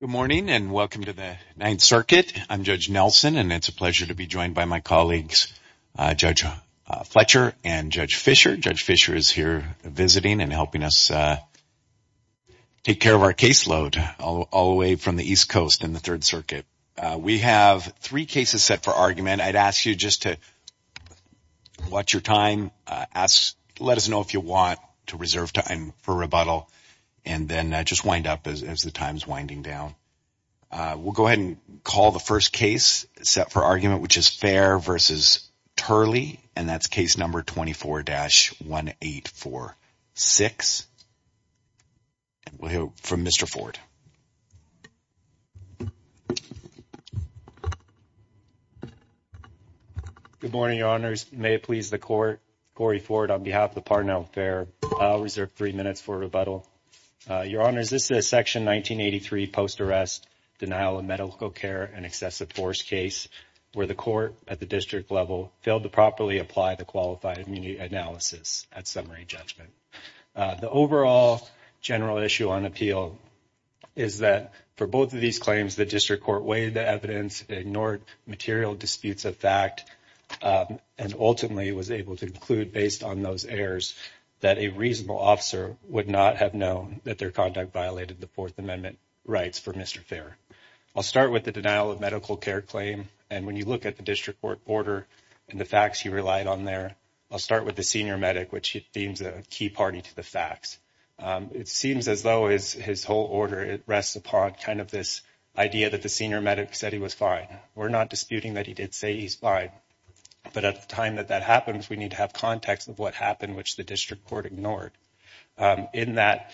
Good morning and welcome to the Ninth Circuit. I'm Judge Nelson and it's a pleasure to be joined by my colleagues, Judge Fletcher and Judge Fisher. Judge Fisher is here visiting and helping us take care of our caseload all the way from the East Coast in the Third Circuit. We have three cases set for argument. I'd ask you just to watch your time, let us know if you want to reserve time for rebuttal, and then just wind up as the time's winding down. We'll go ahead and call the first case set for argument, which is Fair v. Turley, and that's case number 24-1846. We'll hear from Mr. Ford. Good morning, Your Honors. May it please the Court, Corey Ford on behalf of the Parnell Fair. I'll reserve three minutes for rebuttal. Your Honors, this is a Section 1983 post-arrest denial of medical care and excessive force case where the Court at the district level failed to properly apply the qualified immunity analysis at summary judgment. The overall general issue on appeal is that for both of these claims, the district court weighed the evidence, ignored material disputes of fact, and ultimately was able to conclude based on those errors that a reasonable officer would not have known that their conduct violated the Fourth Amendment rights for Mr. Fair. I'll start with the denial of medical care claim, and when you look at the district court order and the facts he relied on there, I'll start with the senior medic, which he deems a key party to the facts. It seems as though his whole order rests upon kind of this idea that the senior medic said he was fine. We're not disputing that he did say he's fine, but at the time that that happens, we need to have context of what happened, which the district court ignored. In that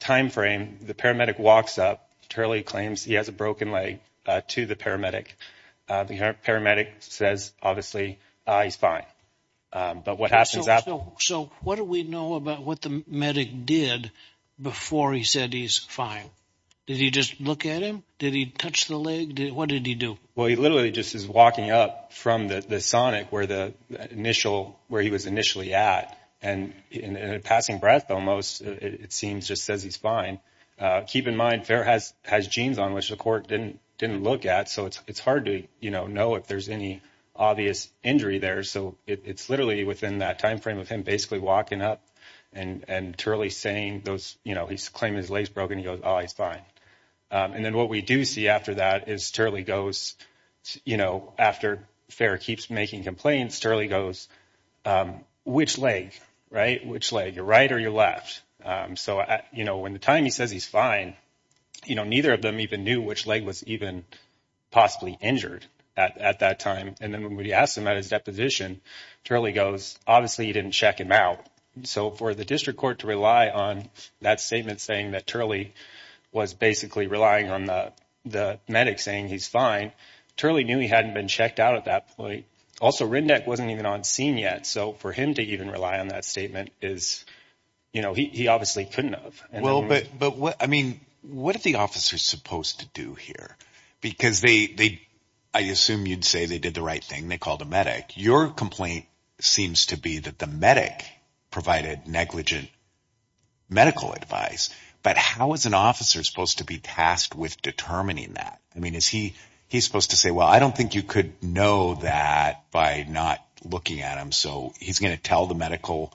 timeframe, the paramedic walks up. Turley claims he has a broken leg to the paramedic. The paramedic says, obviously, he's fine. But what happens after? So what do we know about what the medic did before he said he's fine? Did he just look at him? Did he touch the leg? What did he do? Well, he literally just is walking up from the sonic where the initial where he was initially at and in a passing breath, almost it seems just says he's fine. Keep in mind, Fair has has genes on which the court didn't didn't look at. So it's hard to, you know, know if there's any obvious injury there. So it's literally within that timeframe of him basically walking up and Turley saying those, you know, he's claiming his legs broken. He goes, oh, he's fine. And then what we do see after that is Turley goes, you know, after Fair keeps making complaints, Turley goes, which leg, right? Which leg, your right or your left? So, you know, when the time he says he's fine, you know, neither of them even knew which leg was even possibly injured at that time. And then when we asked him at his deposition, Turley goes, obviously, he didn't check him out. So for the district court to rely on that statement saying that Turley was basically relying on the the medic saying he's fine. Turley knew he hadn't been checked out at that point. Also, Rindeck wasn't even on scene yet. So for him to even rely on that statement is, you know, he obviously couldn't have. Well, but but what I mean, what are the officers supposed to do here? Because they they I assume you'd say they did the right thing. They called a medic. Your complaint seems to be that the medic provided negligent medical advice. But how is an officer supposed to be tasked with determining that? I mean, is he he's supposed to say, well, I don't think you could know that by not looking at him. So he's going to tell the medical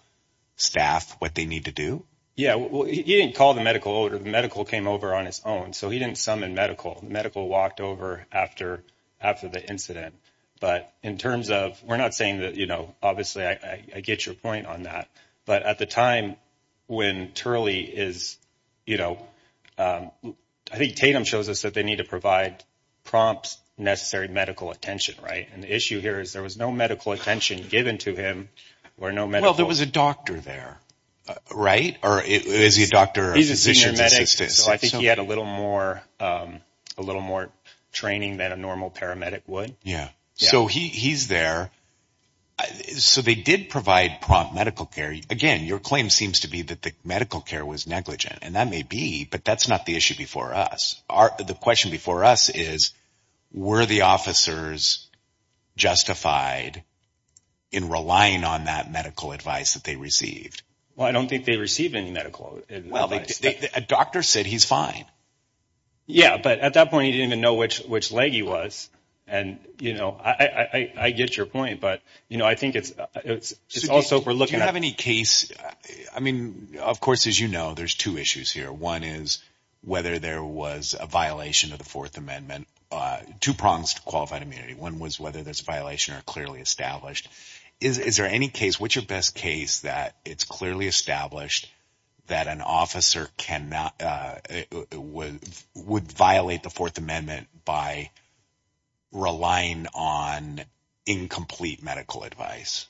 staff what they need to do. Yeah. Well, he didn't call the medical order. The medical came over on his own. So he didn't summon medical medical walked over after after the incident. But in terms of we're not saying that, you know, obviously, I get your point on that. But at the time when Turley is, you know, I think Tatum shows us that they need to provide prompt necessary medical attention. Right. And the issue here is there was no medical attention given to him or no medical. There was a doctor there. Right. Or is he a doctor? He's a senior medic. So I think he had a little more a little more training than a normal paramedic would. Yeah. So he's there. So they did provide prompt medical care. Again, your claim seems to be that the medical care was negligent. And that may be. But that's not the issue before us. The question before us is, were the officers justified in relying on that medical advice that they received? Well, I don't think they received any medical. Well, a doctor said he's fine. Yeah. But at that point, he didn't even know which which leg he was. And, you know, I get your point. But, you know, I think it's it's also we're looking at any case. I mean, of course, as you know, there's two issues here. One is whether there was a violation of the Fourth Amendment to prompt qualified immunity. One was whether there's a violation or clearly established. Is there any case which your best case that it's clearly established that an officer can not would violate the Fourth Amendment by relying on incomplete medical advice?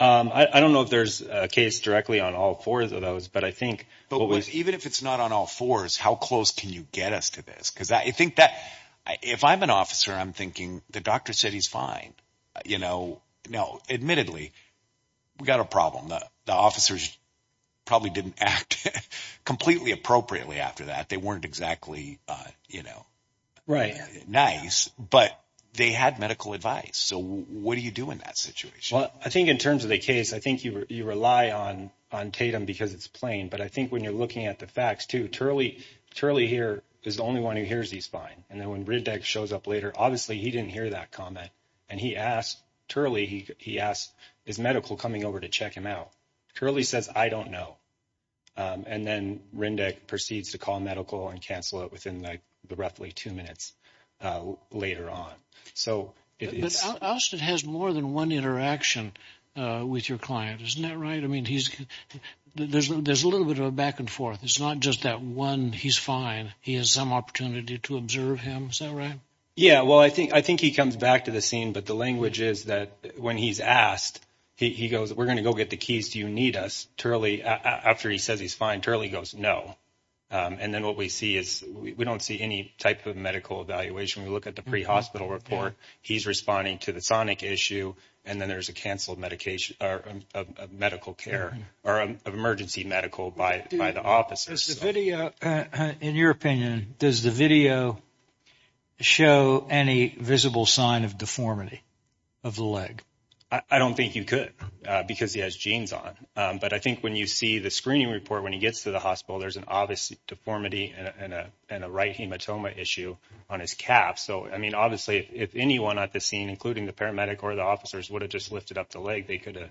I don't know if there's a case directly on all four of those, but I think. But even if it's not on all fours, how close can you get us to this? Because I think that if I'm an officer, I'm thinking the doctor said he's fine. You know, no. Admittedly, we got a problem. The officers probably didn't act completely appropriately after that. They Well, I think in terms of the case, I think you you rely on on Tatum because it's plain. But I think when you're looking at the facts to Turley, Turley here is the only one who hears he's fine. And then when Riddick shows up later, obviously he didn't hear that comment. And he asked Turley, he asked his medical coming over to check him out. Curly says, I don't know. And then Riddick proceeds to call medical and cancel it within the roughly two minutes later on. So it's Austin has more than one interaction with your client, isn't that right? I mean, he's there's there's a little bit of a back and forth. It's not just that one. He's fine. He has some opportunity to observe him. So, right. Yeah, well, I think I think he comes back to the scene. But the language is that when he's asked, he goes, we're going to go get the keys. Do you need us? Turley, after he says he's fine, Turley goes no. And then what we see is we don't see any type of medical evaluation. We look at the pre-hospital report. He's responding to the sonic issue. And then there's a canceled medication or medical care or emergency medical by the officers. In your opinion, does the video show any visible sign of deformity of the leg? I don't think you could because he has jeans on. But I see the screening report when he gets to the hospital. There's an obvious deformity and a right hematoma issue on his calf. So, I mean, obviously, if anyone at the scene, including the paramedic or the officers would have just lifted up the leg, they could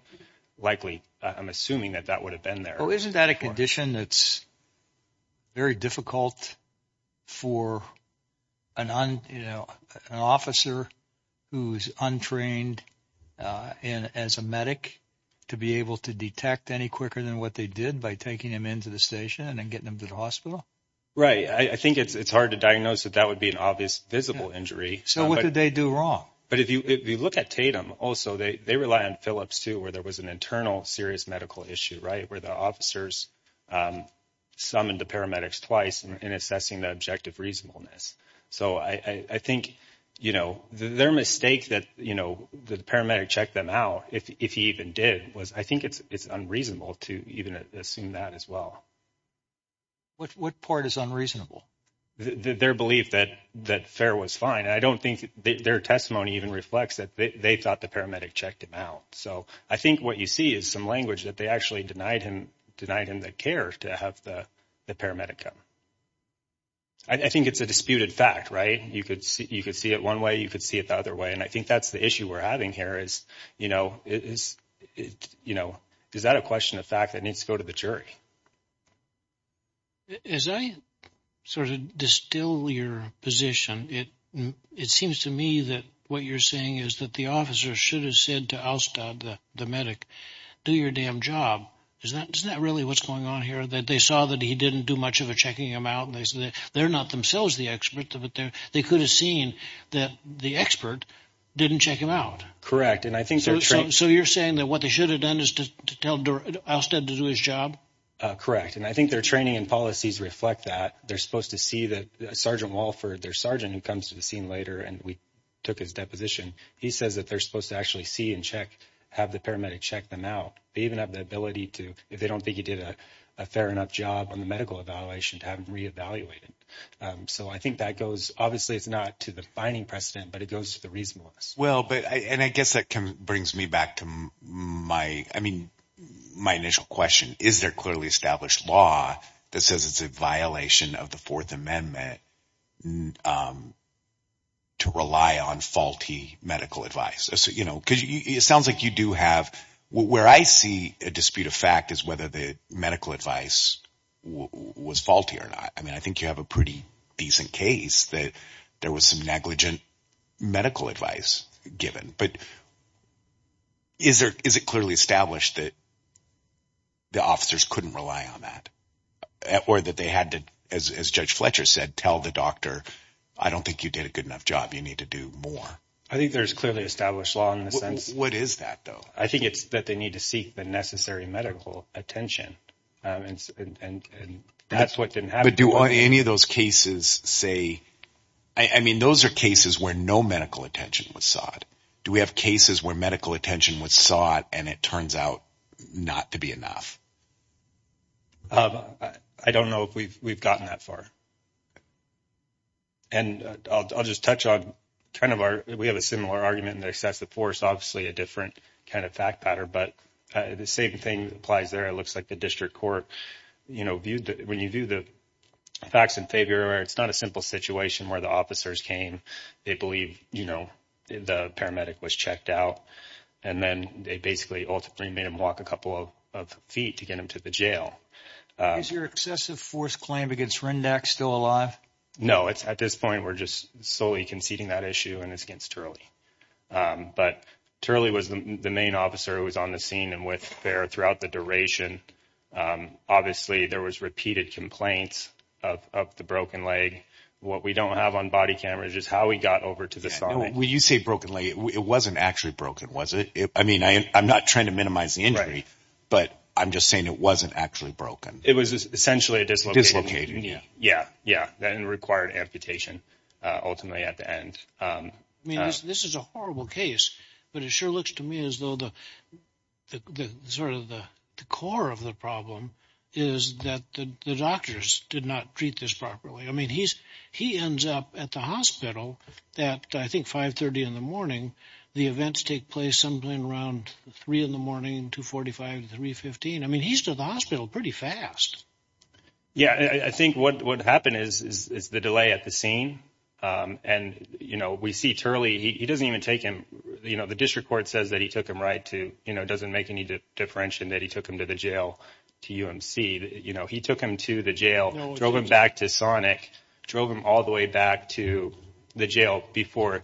likely I'm assuming that that would have been there. Isn't that a condition that's very difficult for an officer who's untrained and as a medic to be able to detect any quicker than what they did by taking him into the station and then getting him to the hospital? Right. I think it's hard to diagnose that that would be an obvious visible injury. So what did they do wrong? But if you look at Tatum also, they rely on Phillips to where there was an internal serious medical issue, right, where the officers summoned the paramedics twice in assessing the objective reasonableness. So I think that, you know, the paramedic checked them out if he even did was I think it's unreasonable to even assume that as well. What part is unreasonable? Their belief that that fair was fine. I don't think their testimony even reflects that they thought the paramedic checked him out. So I think what you see is some language that they actually denied him, denied him the care to have the paramedic come. I think it's a disputed fact, right? You could you could see it one way, you could see it the other way. And I think that's the issue we're having here is, you know, is it, you know, is that a question of fact that needs to go to the jury? As I sort of distill your position, it it seems to me that what you're saying is that the officer should have said to Alstad, the medic, do your damn job. Is that isn't that really what's going on here? That they saw that he didn't do much of a checking him out and they said they're not themselves the experts of it there. They could have seen that the expert didn't check him out. Correct. And I think so. So you're saying that what they should have done is to tell Alstead to do his job? Correct. And I think their training and policies reflect that they're supposed to see that Sergeant Walford, their sergeant who comes to the scene later and we took his deposition. He says that they're supposed to actually see and check, have the paramedic check them out. They even have the ability to if they don't think he did a fair enough job on the medical evaluation to have evaluated. So I think that goes obviously it's not to the binding precedent, but it goes to the reasonableness. Well, but and I guess that brings me back to my I mean, my initial question, is there clearly established law that says it's a violation of the Fourth Amendment to rely on faulty medical advice? So, you know, because it sounds like you do have where I see a dispute of fact is that the medical advice was faulty or not. I mean, I think you have a pretty decent case that there was some negligent medical advice given. But is there is it clearly established that the officers couldn't rely on that or that they had to, as Judge Fletcher said, tell the doctor, I don't think you did a good enough job. You need to do more. I think there's clearly established law in the What is that, though? I think it's that they need to seek the necessary medical attention. And that's what didn't happen. But do any of those cases say I mean, those are cases where no medical attention was sought. Do we have cases where medical attention was sought and it turns out not to be enough? I don't know if we've gotten that far. And I'll just touch on kind of our we have a similar argument in the excessive force, obviously a different kind of fact pattern. But the same thing applies there. It looks like the district court, you know, viewed when you do the facts in favor, it's not a simple situation where the officers came. They believe, you know, the paramedic was checked out and then they basically ultimately made him walk a couple of feet to get him to the jail. Is your excessive force claim against Rindac still alive? No, it's at this point, we're just solely conceding that issue and it's against Turley. But Turley was the main officer who was on the scene and with there throughout the duration. Obviously, there was repeated complaints of the broken leg. What we don't have on body cameras is how we got over to the side. When you say broken leg, it wasn't actually broken, was it? I mean, I'm not trying to minimize the injury. But I'm just saying it wasn't actually broken. It was essentially a dislocated knee. Yeah, yeah. That required amputation ultimately at the end. I mean, this is a horrible case, but it sure looks to me as though the sort of the core of the problem is that the doctors did not treat this properly. I mean, he's he ends up at the hospital that I think 530 in the morning, the events take place sometime around three in the morning, 245, 315. I mean, he's at the hospital pretty fast. Yeah, I think what would happen is the delay at the scene. And, you know, we see Turley, he doesn't even take him. You know, the district court says that he took him right to, you know, doesn't make any differentiation that he took him to the jail to UMC. You know, he took him to the jail, drove him back to Sonic, drove him all the way back to the jail before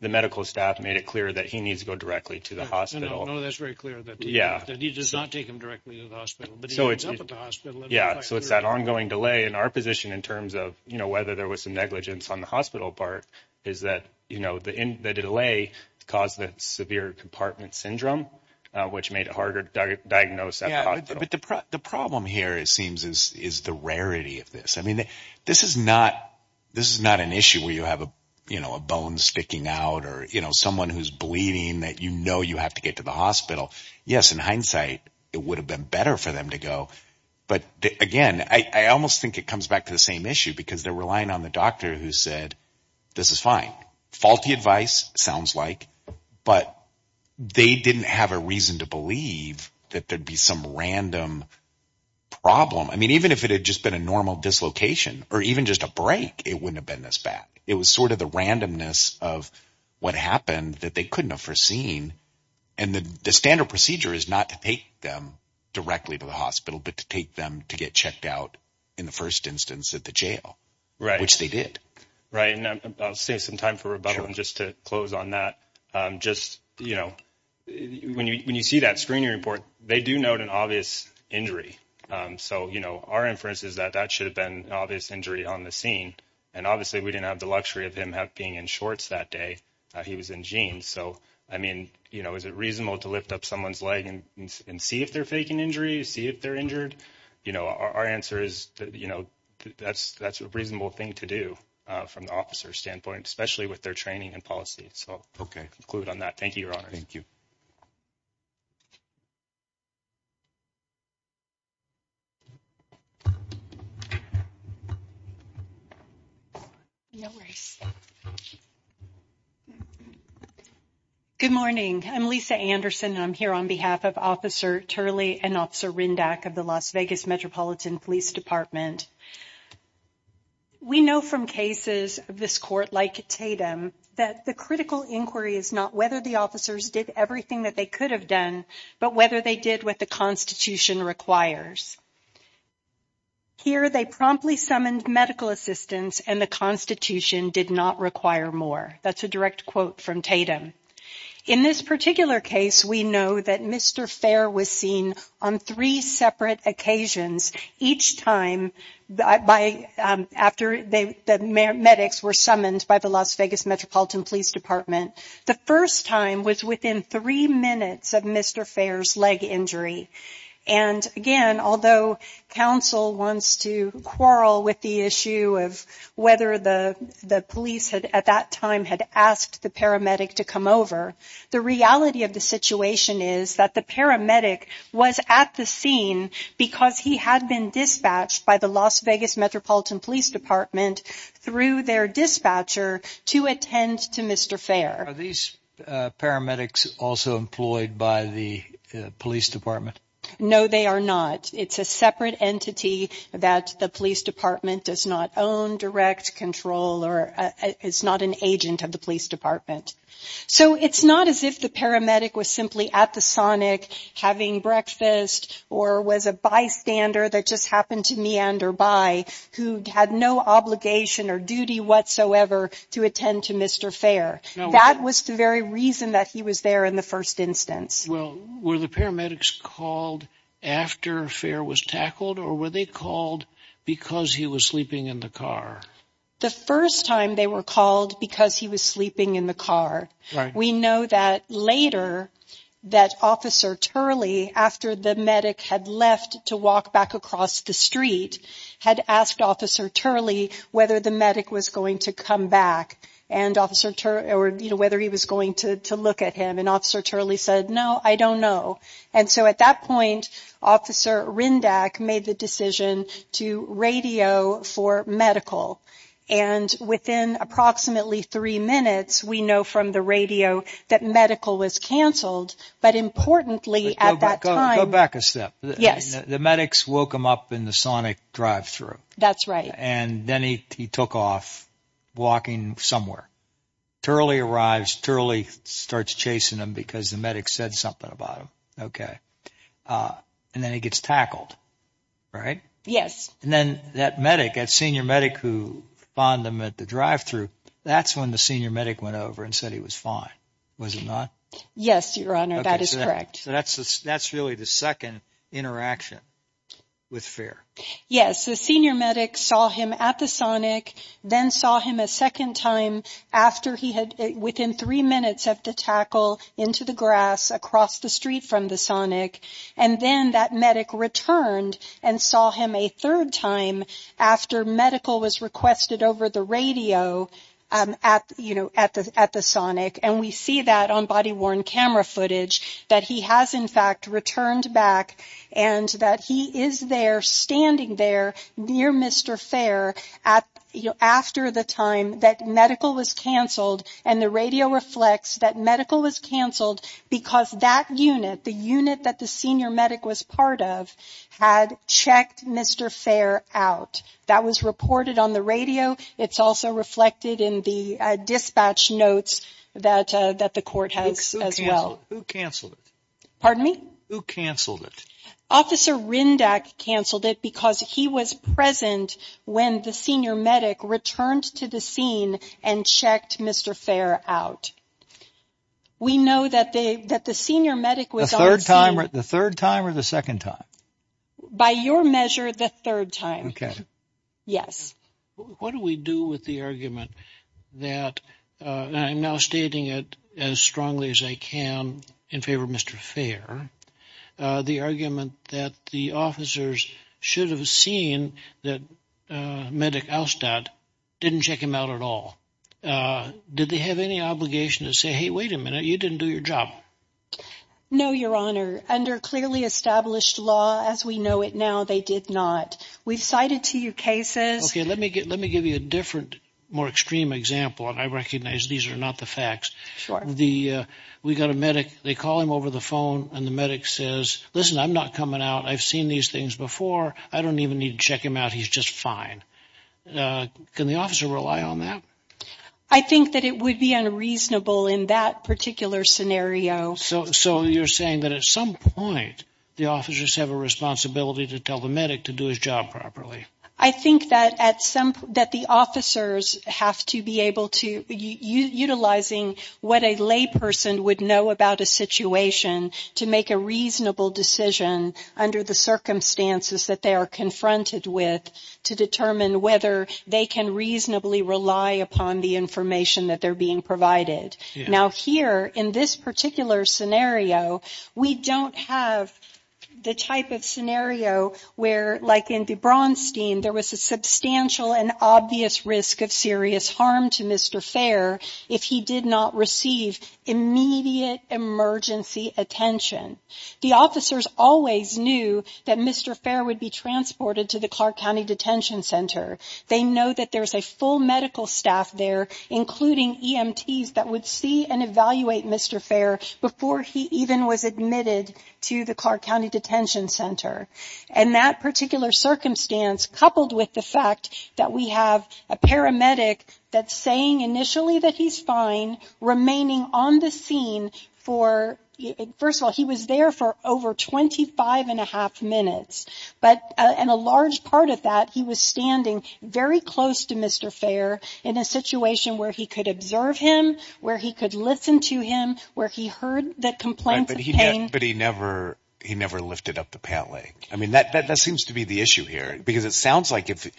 the medical staff made it clear that he needs to go directly to the hospital. No, that's very clear that he does not take him directly to the hospital. Yeah. So it's that ongoing delay in our position in terms of, you know, whether there was some negligence on the hospital part is that, you know, the delay caused the severe compartment syndrome, which made it harder to diagnose. But the problem here, it seems, is the rarity of this. I mean, this is not this is not an issue where you know, a bone sticking out or, you know, someone who's bleeding that, you know, you have to get to the hospital. Yes, in hindsight, it would have been better for them to go. But again, I almost think it comes back to the same issue because they're relying on the doctor who said, this is fine. Faulty advice sounds like, but they didn't have a reason to believe that there'd be some random problem. I mean, even if it had just been a normal dislocation or even just a break, it wouldn't have been this bad. It was sort of the randomness of what happened that they couldn't have foreseen. And the standard procedure is not to take them directly to the hospital, but to take them to get checked out in the first instance at the jail, which they did. Right. And I'll save some time for rebuttal just to close on that. Just, you know, when you see that screening report, they do note an obvious injury. So, you know, our inference is that that should have been an obvious injury on the scene. And obviously, we didn't have the luxury of him being in shorts that day. He was in jeans. So, I mean, you know, is it reasonable to lift up someone's leg and see if they're faking injury, see if they're injured? You know, our answer is, you know, that's a reasonable thing to do from the officer's standpoint, especially with their training and policy. So, okay, conclude on that. Thank you, Your Honor. Thank you. Good morning. I'm Lisa Anderson. I'm here on behalf of Officer Turley and Officer Rindach of the Las Vegas Metropolitan Police Department. We know from cases of this court, like Tatum, that the critical inquiry is not whether the officers did everything that they could have done, but whether they did what the Constitution requires. Here, they promptly summoned medical assistance and the Constitution did not require more. That's a direct quote from Tatum. In this particular case, we know that Mr. Fair was seen on three separate occasions, each time after the medics were summoned by the Las Vegas Metropolitan Police Department. The first time was within three minutes of Mr. Fair's leg injury. And again, although counsel wants to quarrel with the issue of whether the police at that time had asked the paramedic to come over, the reality of the situation is that the paramedic was at the scene because he had been dispatched by the Las Vegas Metropolitan Police Department through their dispatcher to attend to Mr. Fair. Are these paramedics also employed by the police department? No, they are not. It's a separate entity that the police department does not own direct control or is not an agent of the police department. So it's not as if the paramedic was simply at the Sonic having breakfast or was a bystander that just happened to meander by, who had no obligation or duty whatsoever to attend to Mr. Fair. That was the very reason that he was there in the first instance. Well, were the paramedics called after Fair was tackled or were they called because he was sleeping in the car? The first time they were called because he was sleeping in the car. We know that later that Officer Turley, after the medic had left to walk back across the street, had asked Officer Turley whether the medic was going to come back and whether he was going to look at him. And Officer Turley said, no, I don't know. And so at that point, Officer Rindach made the decision to radio for medical. And within approximately three minutes, we know from the radio that medical was canceled. But importantly, at that time, go back a step. Yes, the medics woke him up in the Sonic drive thru. That's right. And then he took off walking somewhere. Turley arrives. Turley starts chasing him because the medic said something about him. OK. And then he gets tackled. Right. Yes. And then that medic, that senior medic who found him at the drive thru, that's when the senior medic went over and said he was fine. Was it not? Yes, Your Honor. That is correct. So that's that's really the second interaction with fear. Yes. The senior medic saw him at the Sonic, then saw him a second time after he had within three minutes of the tackle into the grass across the street from the Sonic. And then that medic returned and saw him a third time after medical was requested over the radio at, you know, at the at the Sonic. And we see that on body worn camera footage that he has, in fact, returned back and that he is there standing there near Mr. Fair at after the time that medical was canceled. And the radio reflects that medical was canceled because that unit, the unit that the senior medic was part of, had checked Mr. Fair out. That was reported on the radio. It's also reflected in the dispatch notes that that the court has as well. Who canceled it? Pardon me? Who canceled it? Officer Rindac canceled it because he was present when the senior medic returned to the scene and checked Mr. Fair out. We know that they that the senior medic was there the third time or the second time, by your measure, the third time. Yes. What do we do with the argument that I'm now stating it as strongly as I can in favor of Mr. Fair, the argument that the officers should have seen that medic out that didn't check him out at all. Did they have any obligation to say, hey, wait a minute, you didn't do your job? No, your honor. Under clearly established law, as we know it now, they did not. We've cited to you cases. OK, let me get let me give you a different, more extreme example. And I recognize these are not the facts. The we got a medic. They call him over the phone and the medic says, listen, I'm not coming out. I've seen these things before. I don't even need to check him out. He's just fine. Can the officer rely on that? I think that it would be unreasonable in that particular scenario. So so you're saying that at some point the officers have a responsibility to tell the medic to do his job properly? I think that at some that the officers have to be able to utilizing what a lay person would know about a situation to make a reasonable decision under the circumstances that they are confronted with to determine whether they can reasonably rely upon the information that they're being provided. Now, here in this particular scenario, we don't have the type of scenario where, like in the Braunstein, there was a substantial and obvious risk of serious harm to Mr. Fair if he did not receive immediate emergency attention. The officers always knew that Mr. Fair would be transported to the Clark County Detention Center. They know that there's a full medical staff there, including EMTs that would see and evaluate Mr. Fair before he even was admitted to the Clark County Detention Center. And that particular circumstance, coupled with the fact that we have a paramedic that's saying initially that he's fine remaining on the scene for it. First of all, he was there for over twenty five and a half minutes. But in a large part of that, he was standing very close to Mr. Fair in a situation where he could observe him, where he could listen to him, where he heard that complaint. But he never he never lifted up the pant leg. I mean, that that seems to be the issue here, because it sounds like if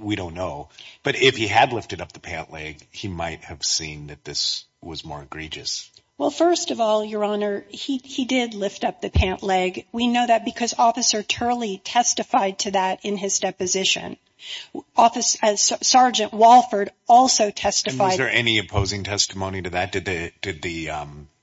we don't know. But if he had lifted up the pant leg, he might have seen that this was more egregious. Well, first of all, your honor, he he did lift up the pant leg. We know that because Officer Turley testified to that in his deposition office as Sergeant Walford also testified. Was there any opposing testimony to that? Did they did the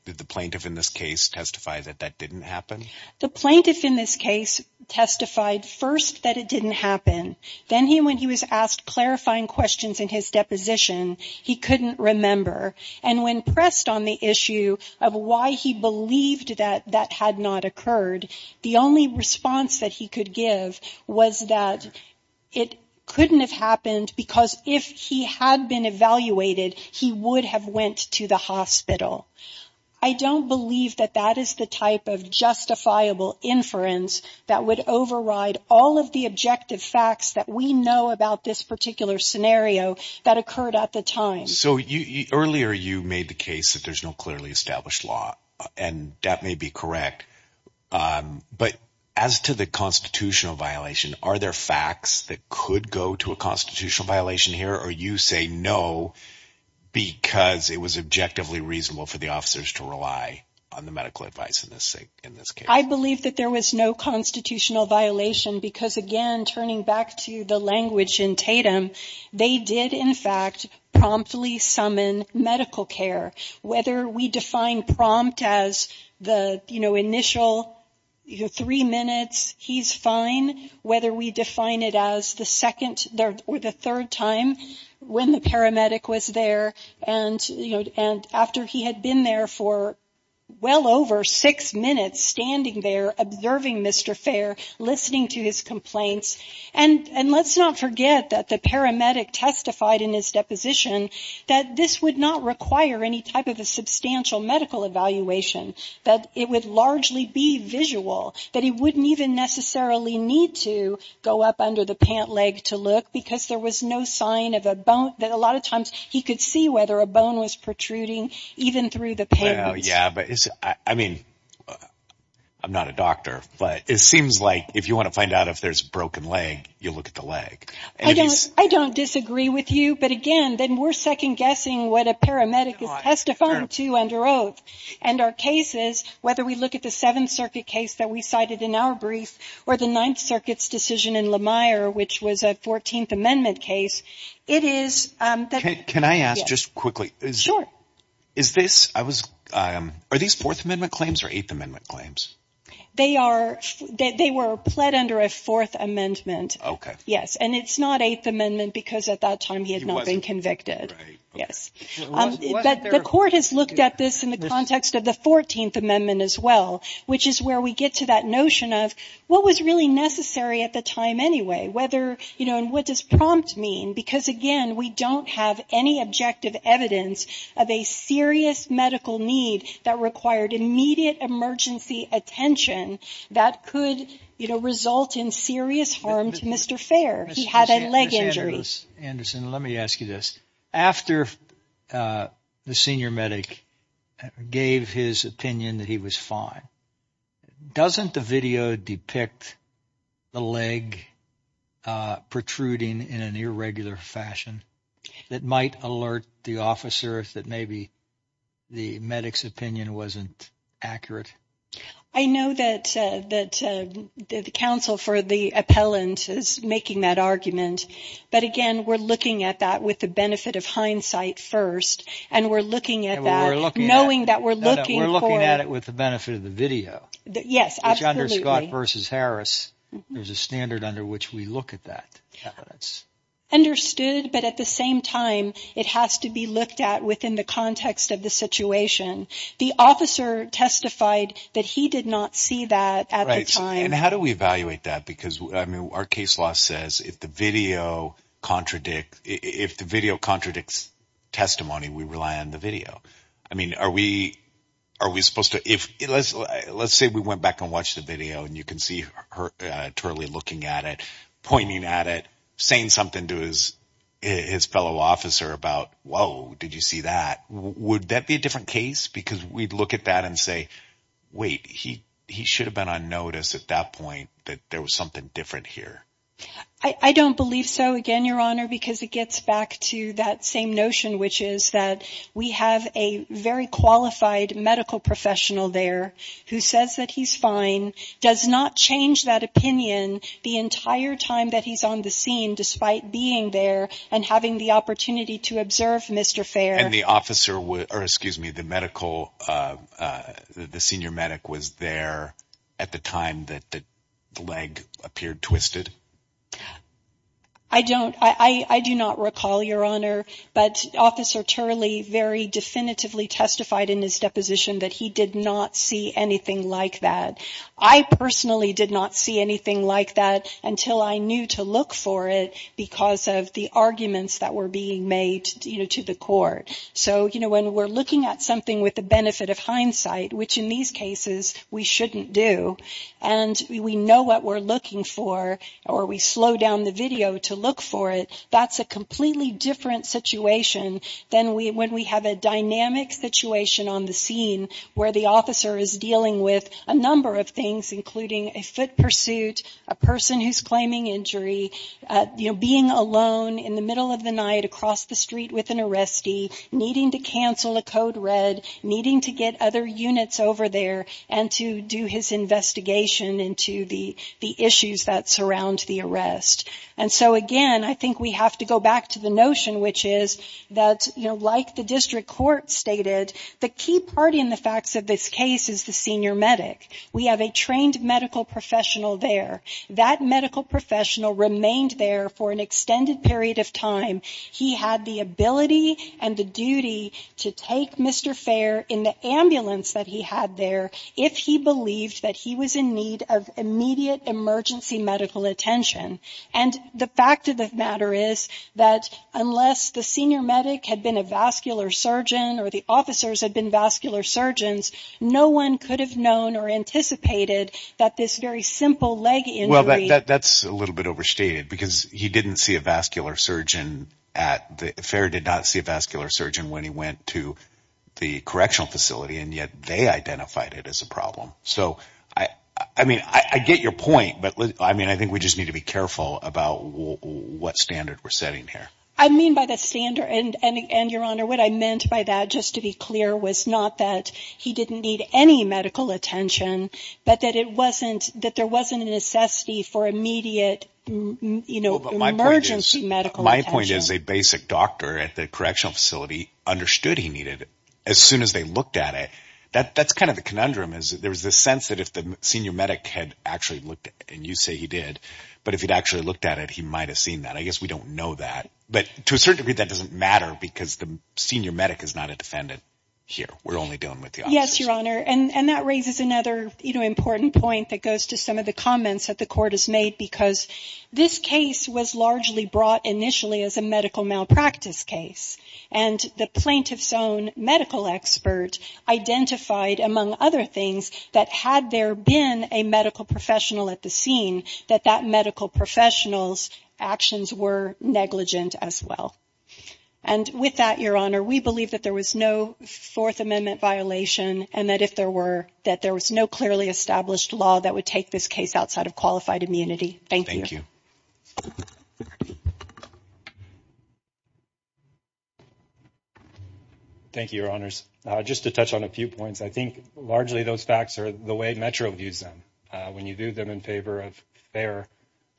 did the plaintiff in this case testify that that didn't happen? The plaintiff in this case testified first that it didn't happen. Then he when he was asked clarifying questions in his deposition, he couldn't remember. And when pressed on the issue of why he believed that that had not occurred, the only response that he could give was that it couldn't have happened because if he had been evaluated, he would have went to the hospital. I don't believe that that is the type of justifiable inference that would override all of the objective facts that we know about this particular scenario that occurred at the time. So earlier you made the case that there's no clearly established law and that may be correct. But as to the constitutional violation, are there facts that could go to a constitutional violation here or you say no, because it was objectively reasonable for the officers to rely on the medical advice in this in this case? I believe that there was no constitutional violation because, again, turning back to the language in Tatum, they did, in fact, promptly summon medical care, whether we define prompt as the initial three minutes. He's fine. Whether we define it as the second or the third time when the paramedic was there. And, you know, and after he had been there for well over six minutes standing there observing Mr. Fair, listening to his complaints and and let's not forget that the paramedic testified in his deposition that this would not require any type of a substantial medical evaluation, that it would largely be visual, that he wouldn't even necessarily need to go up under the pant leg to look because there was no sign of a bone that a lot of times he could see whether a bone was protruding even through the. Yeah, but I mean, I'm not a doctor, but it seems like if you want to find out if there's a broken leg, you look at the leg. I don't disagree with you. But again, then we're second guessing what a paramedic is testifying to under oath and our cases, whether we look at the Seventh Circuit case that we cited in our brief or the Ninth Circuit's decision in Lemire, which was a 14th Amendment case. It is. Can I ask just quickly? Sure. Is this I was. Are these Fourth Amendment claims or Eighth Amendment claims? They are. They were pled under a Fourth Amendment. OK. Yes. And it's not Eighth Amendment because at that time he had not been convicted. Yes. But the court has looked at this in the context of the 14th Amendment as well, which is where we get to that notion of what was really necessary at the time anyway, whether you know, and what does prompt mean? Because, again, we don't have any objective evidence of a serious medical need that required immediate emergency attention. That could result in serious harm to Mr. Fair. Anderson, let me ask you this. After the senior medic gave his opinion that he was fine, doesn't the video depict the leg protruding in an irregular fashion that might alert the officer that maybe the medic's opinion wasn't accurate? I know that that the counsel for the appellant is making that argument. But again, we're looking at that with the benefit of hindsight first. And we're looking at that, knowing that we're looking at it with the benefit of the video. Yes. Under Scott versus Harris, there's a standard under which we look at that evidence. Understood. But at the same time, it has to be looked at within the context of the situation. The officer testified that he did not see that at the time. And how do we evaluate that? Because, I mean, our case law says if the video contradict if the video contradicts testimony, we rely on the video. I mean, are we are we supposed to if let's let's say we went back and watched the video and you can see her totally looking at it, pointing at it, saying something to his his fellow officer about, whoa, did you see that? Would that be a different case? Because we'd look at that and say, wait, he he should have been on notice at that point that there was something different here. I don't believe so. Again, Your Honor, because it gets back to that same notion, which is that we have a very qualified medical professional there who says that he's fine, does not change that opinion the entire time that he's on the scene, despite being there and having the opportunity to observe Mr. Fair and the officer or excuse me, the medical the senior medic was there at the time that the leg appeared twisted. I don't I do not recall, Your Honor, but Officer Turley very definitively testified in his deposition that he did not see anything like that. I personally did not see anything like that until I knew to look for it because of the arguments that were being made to the court. So, you know, when we're looking at something with the benefit of hindsight, which in these cases we shouldn't do, and we know what we're looking for or we slow down the video to look for it. That's a completely different situation than when we have a dynamic situation on the scene where the officer is dealing with a number of things, including a foot pursuit, a person who's claiming injury, you know, being alone in the middle of the night across the street with an arrestee, needing to cancel a code red, needing to get other units over there and to do his investigation into the issues that surround the arrest. And so, again, I think we have to go back to the notion, which is that, you know, like the district court stated, the key party in the facts of this case is the senior medic. We have a trained medical professional there. That medical professional remained there for an extended period of time. He had the ability and the duty to take Mr. Fair in the ambulance that he had there if he believed that he was in need of immediate emergency medical attention. And the fact of the matter is that unless the senior medic had been a vascular surgeon or the officers had been vascular surgeons, no one could have known or anticipated that this very simple leg injury. Well, that's a little bit overstated because he didn't see a vascular surgeon at the fair, did not see a vascular surgeon when he went to the correctional facility, and yet they identified it as a problem. So, I mean, I get your point, but I mean, I think we just need to be careful about what standard we're setting here. I mean, by the standard and your honor, what I meant by that, just to be clear, was not that he didn't need any medical attention, but that it wasn't that there wasn't a necessity for immediate, you know, emergency medical. My point is a basic doctor at the correctional facility understood he needed it as soon as they looked at it. That's kind of the conundrum is there was the sense that if the senior medic had actually looked and you say he did, but if he'd actually looked at it, he might have seen that. I guess we don't know that. But to a certain degree, that doesn't matter because the senior medic is not a defendant here. We're only dealing with the officers. Yes, your honor. And that raises another important point that goes to some of the comments that the court has made, because this case was largely brought initially as a medical malpractice case. And the plaintiff's own medical expert identified, among other things, that had there been a medical professional at the scene, that that medical professional's actions were negligent as well. And with that, your honor, we believe that there was no Fourth Amendment violation and that if there were, that there was no clearly established law that would take this case outside of qualified immunity. Thank you. Thank you. Thank you, your honors. Just to touch on a few points, I think largely those facts are the way Metro views them. When you do them in favor of fair,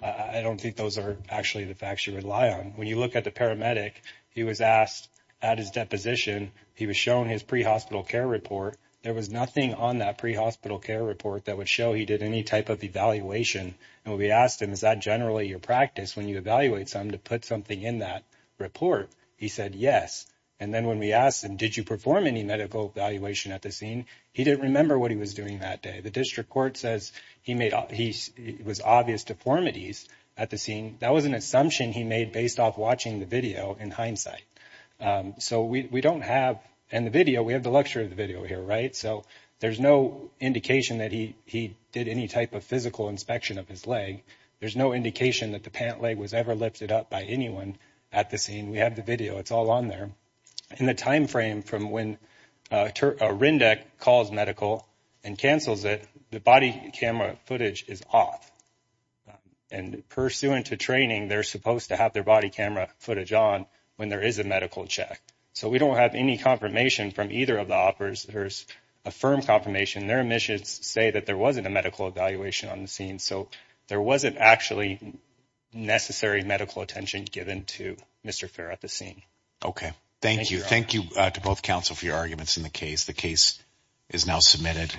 I don't think those are actually the facts you rely on. When you look at the paramedic, he was asked at his deposition, he was shown his pre-hospital care report. There was nothing on that pre-hospital care report that would show he did any type of evaluation. And when we asked him, is that generally your practice when you evaluate someone to put something in that report? He said yes. And then when we asked him, did you perform any medical evaluation at the scene? He didn't remember what he was doing that day. The district court says he was obvious deformities at the scene. That was an assumption he made based off watching the video in hindsight. So we don't have in the video, we have the luxury of the video here, right? So there's no indication that he did any type of physical inspection of his leg. There's no indication that the pant leg was ever lifted up by anyone at the scene. We have the video. It's all on there. In the time frame from when RINDEC calls medical and cancels it, the body camera footage is off. And pursuant to training, they're supposed to have their body camera footage on when there is a medical check. So we don't have any confirmation from either of the offers. There's a firm confirmation. Their admissions say that there wasn't a medical evaluation on the scene. So there wasn't actually necessary medical attention given to Mr. Fair at the scene. Okay. Thank you. Thank you to both counsel for your arguments in the case. The case is now submitted.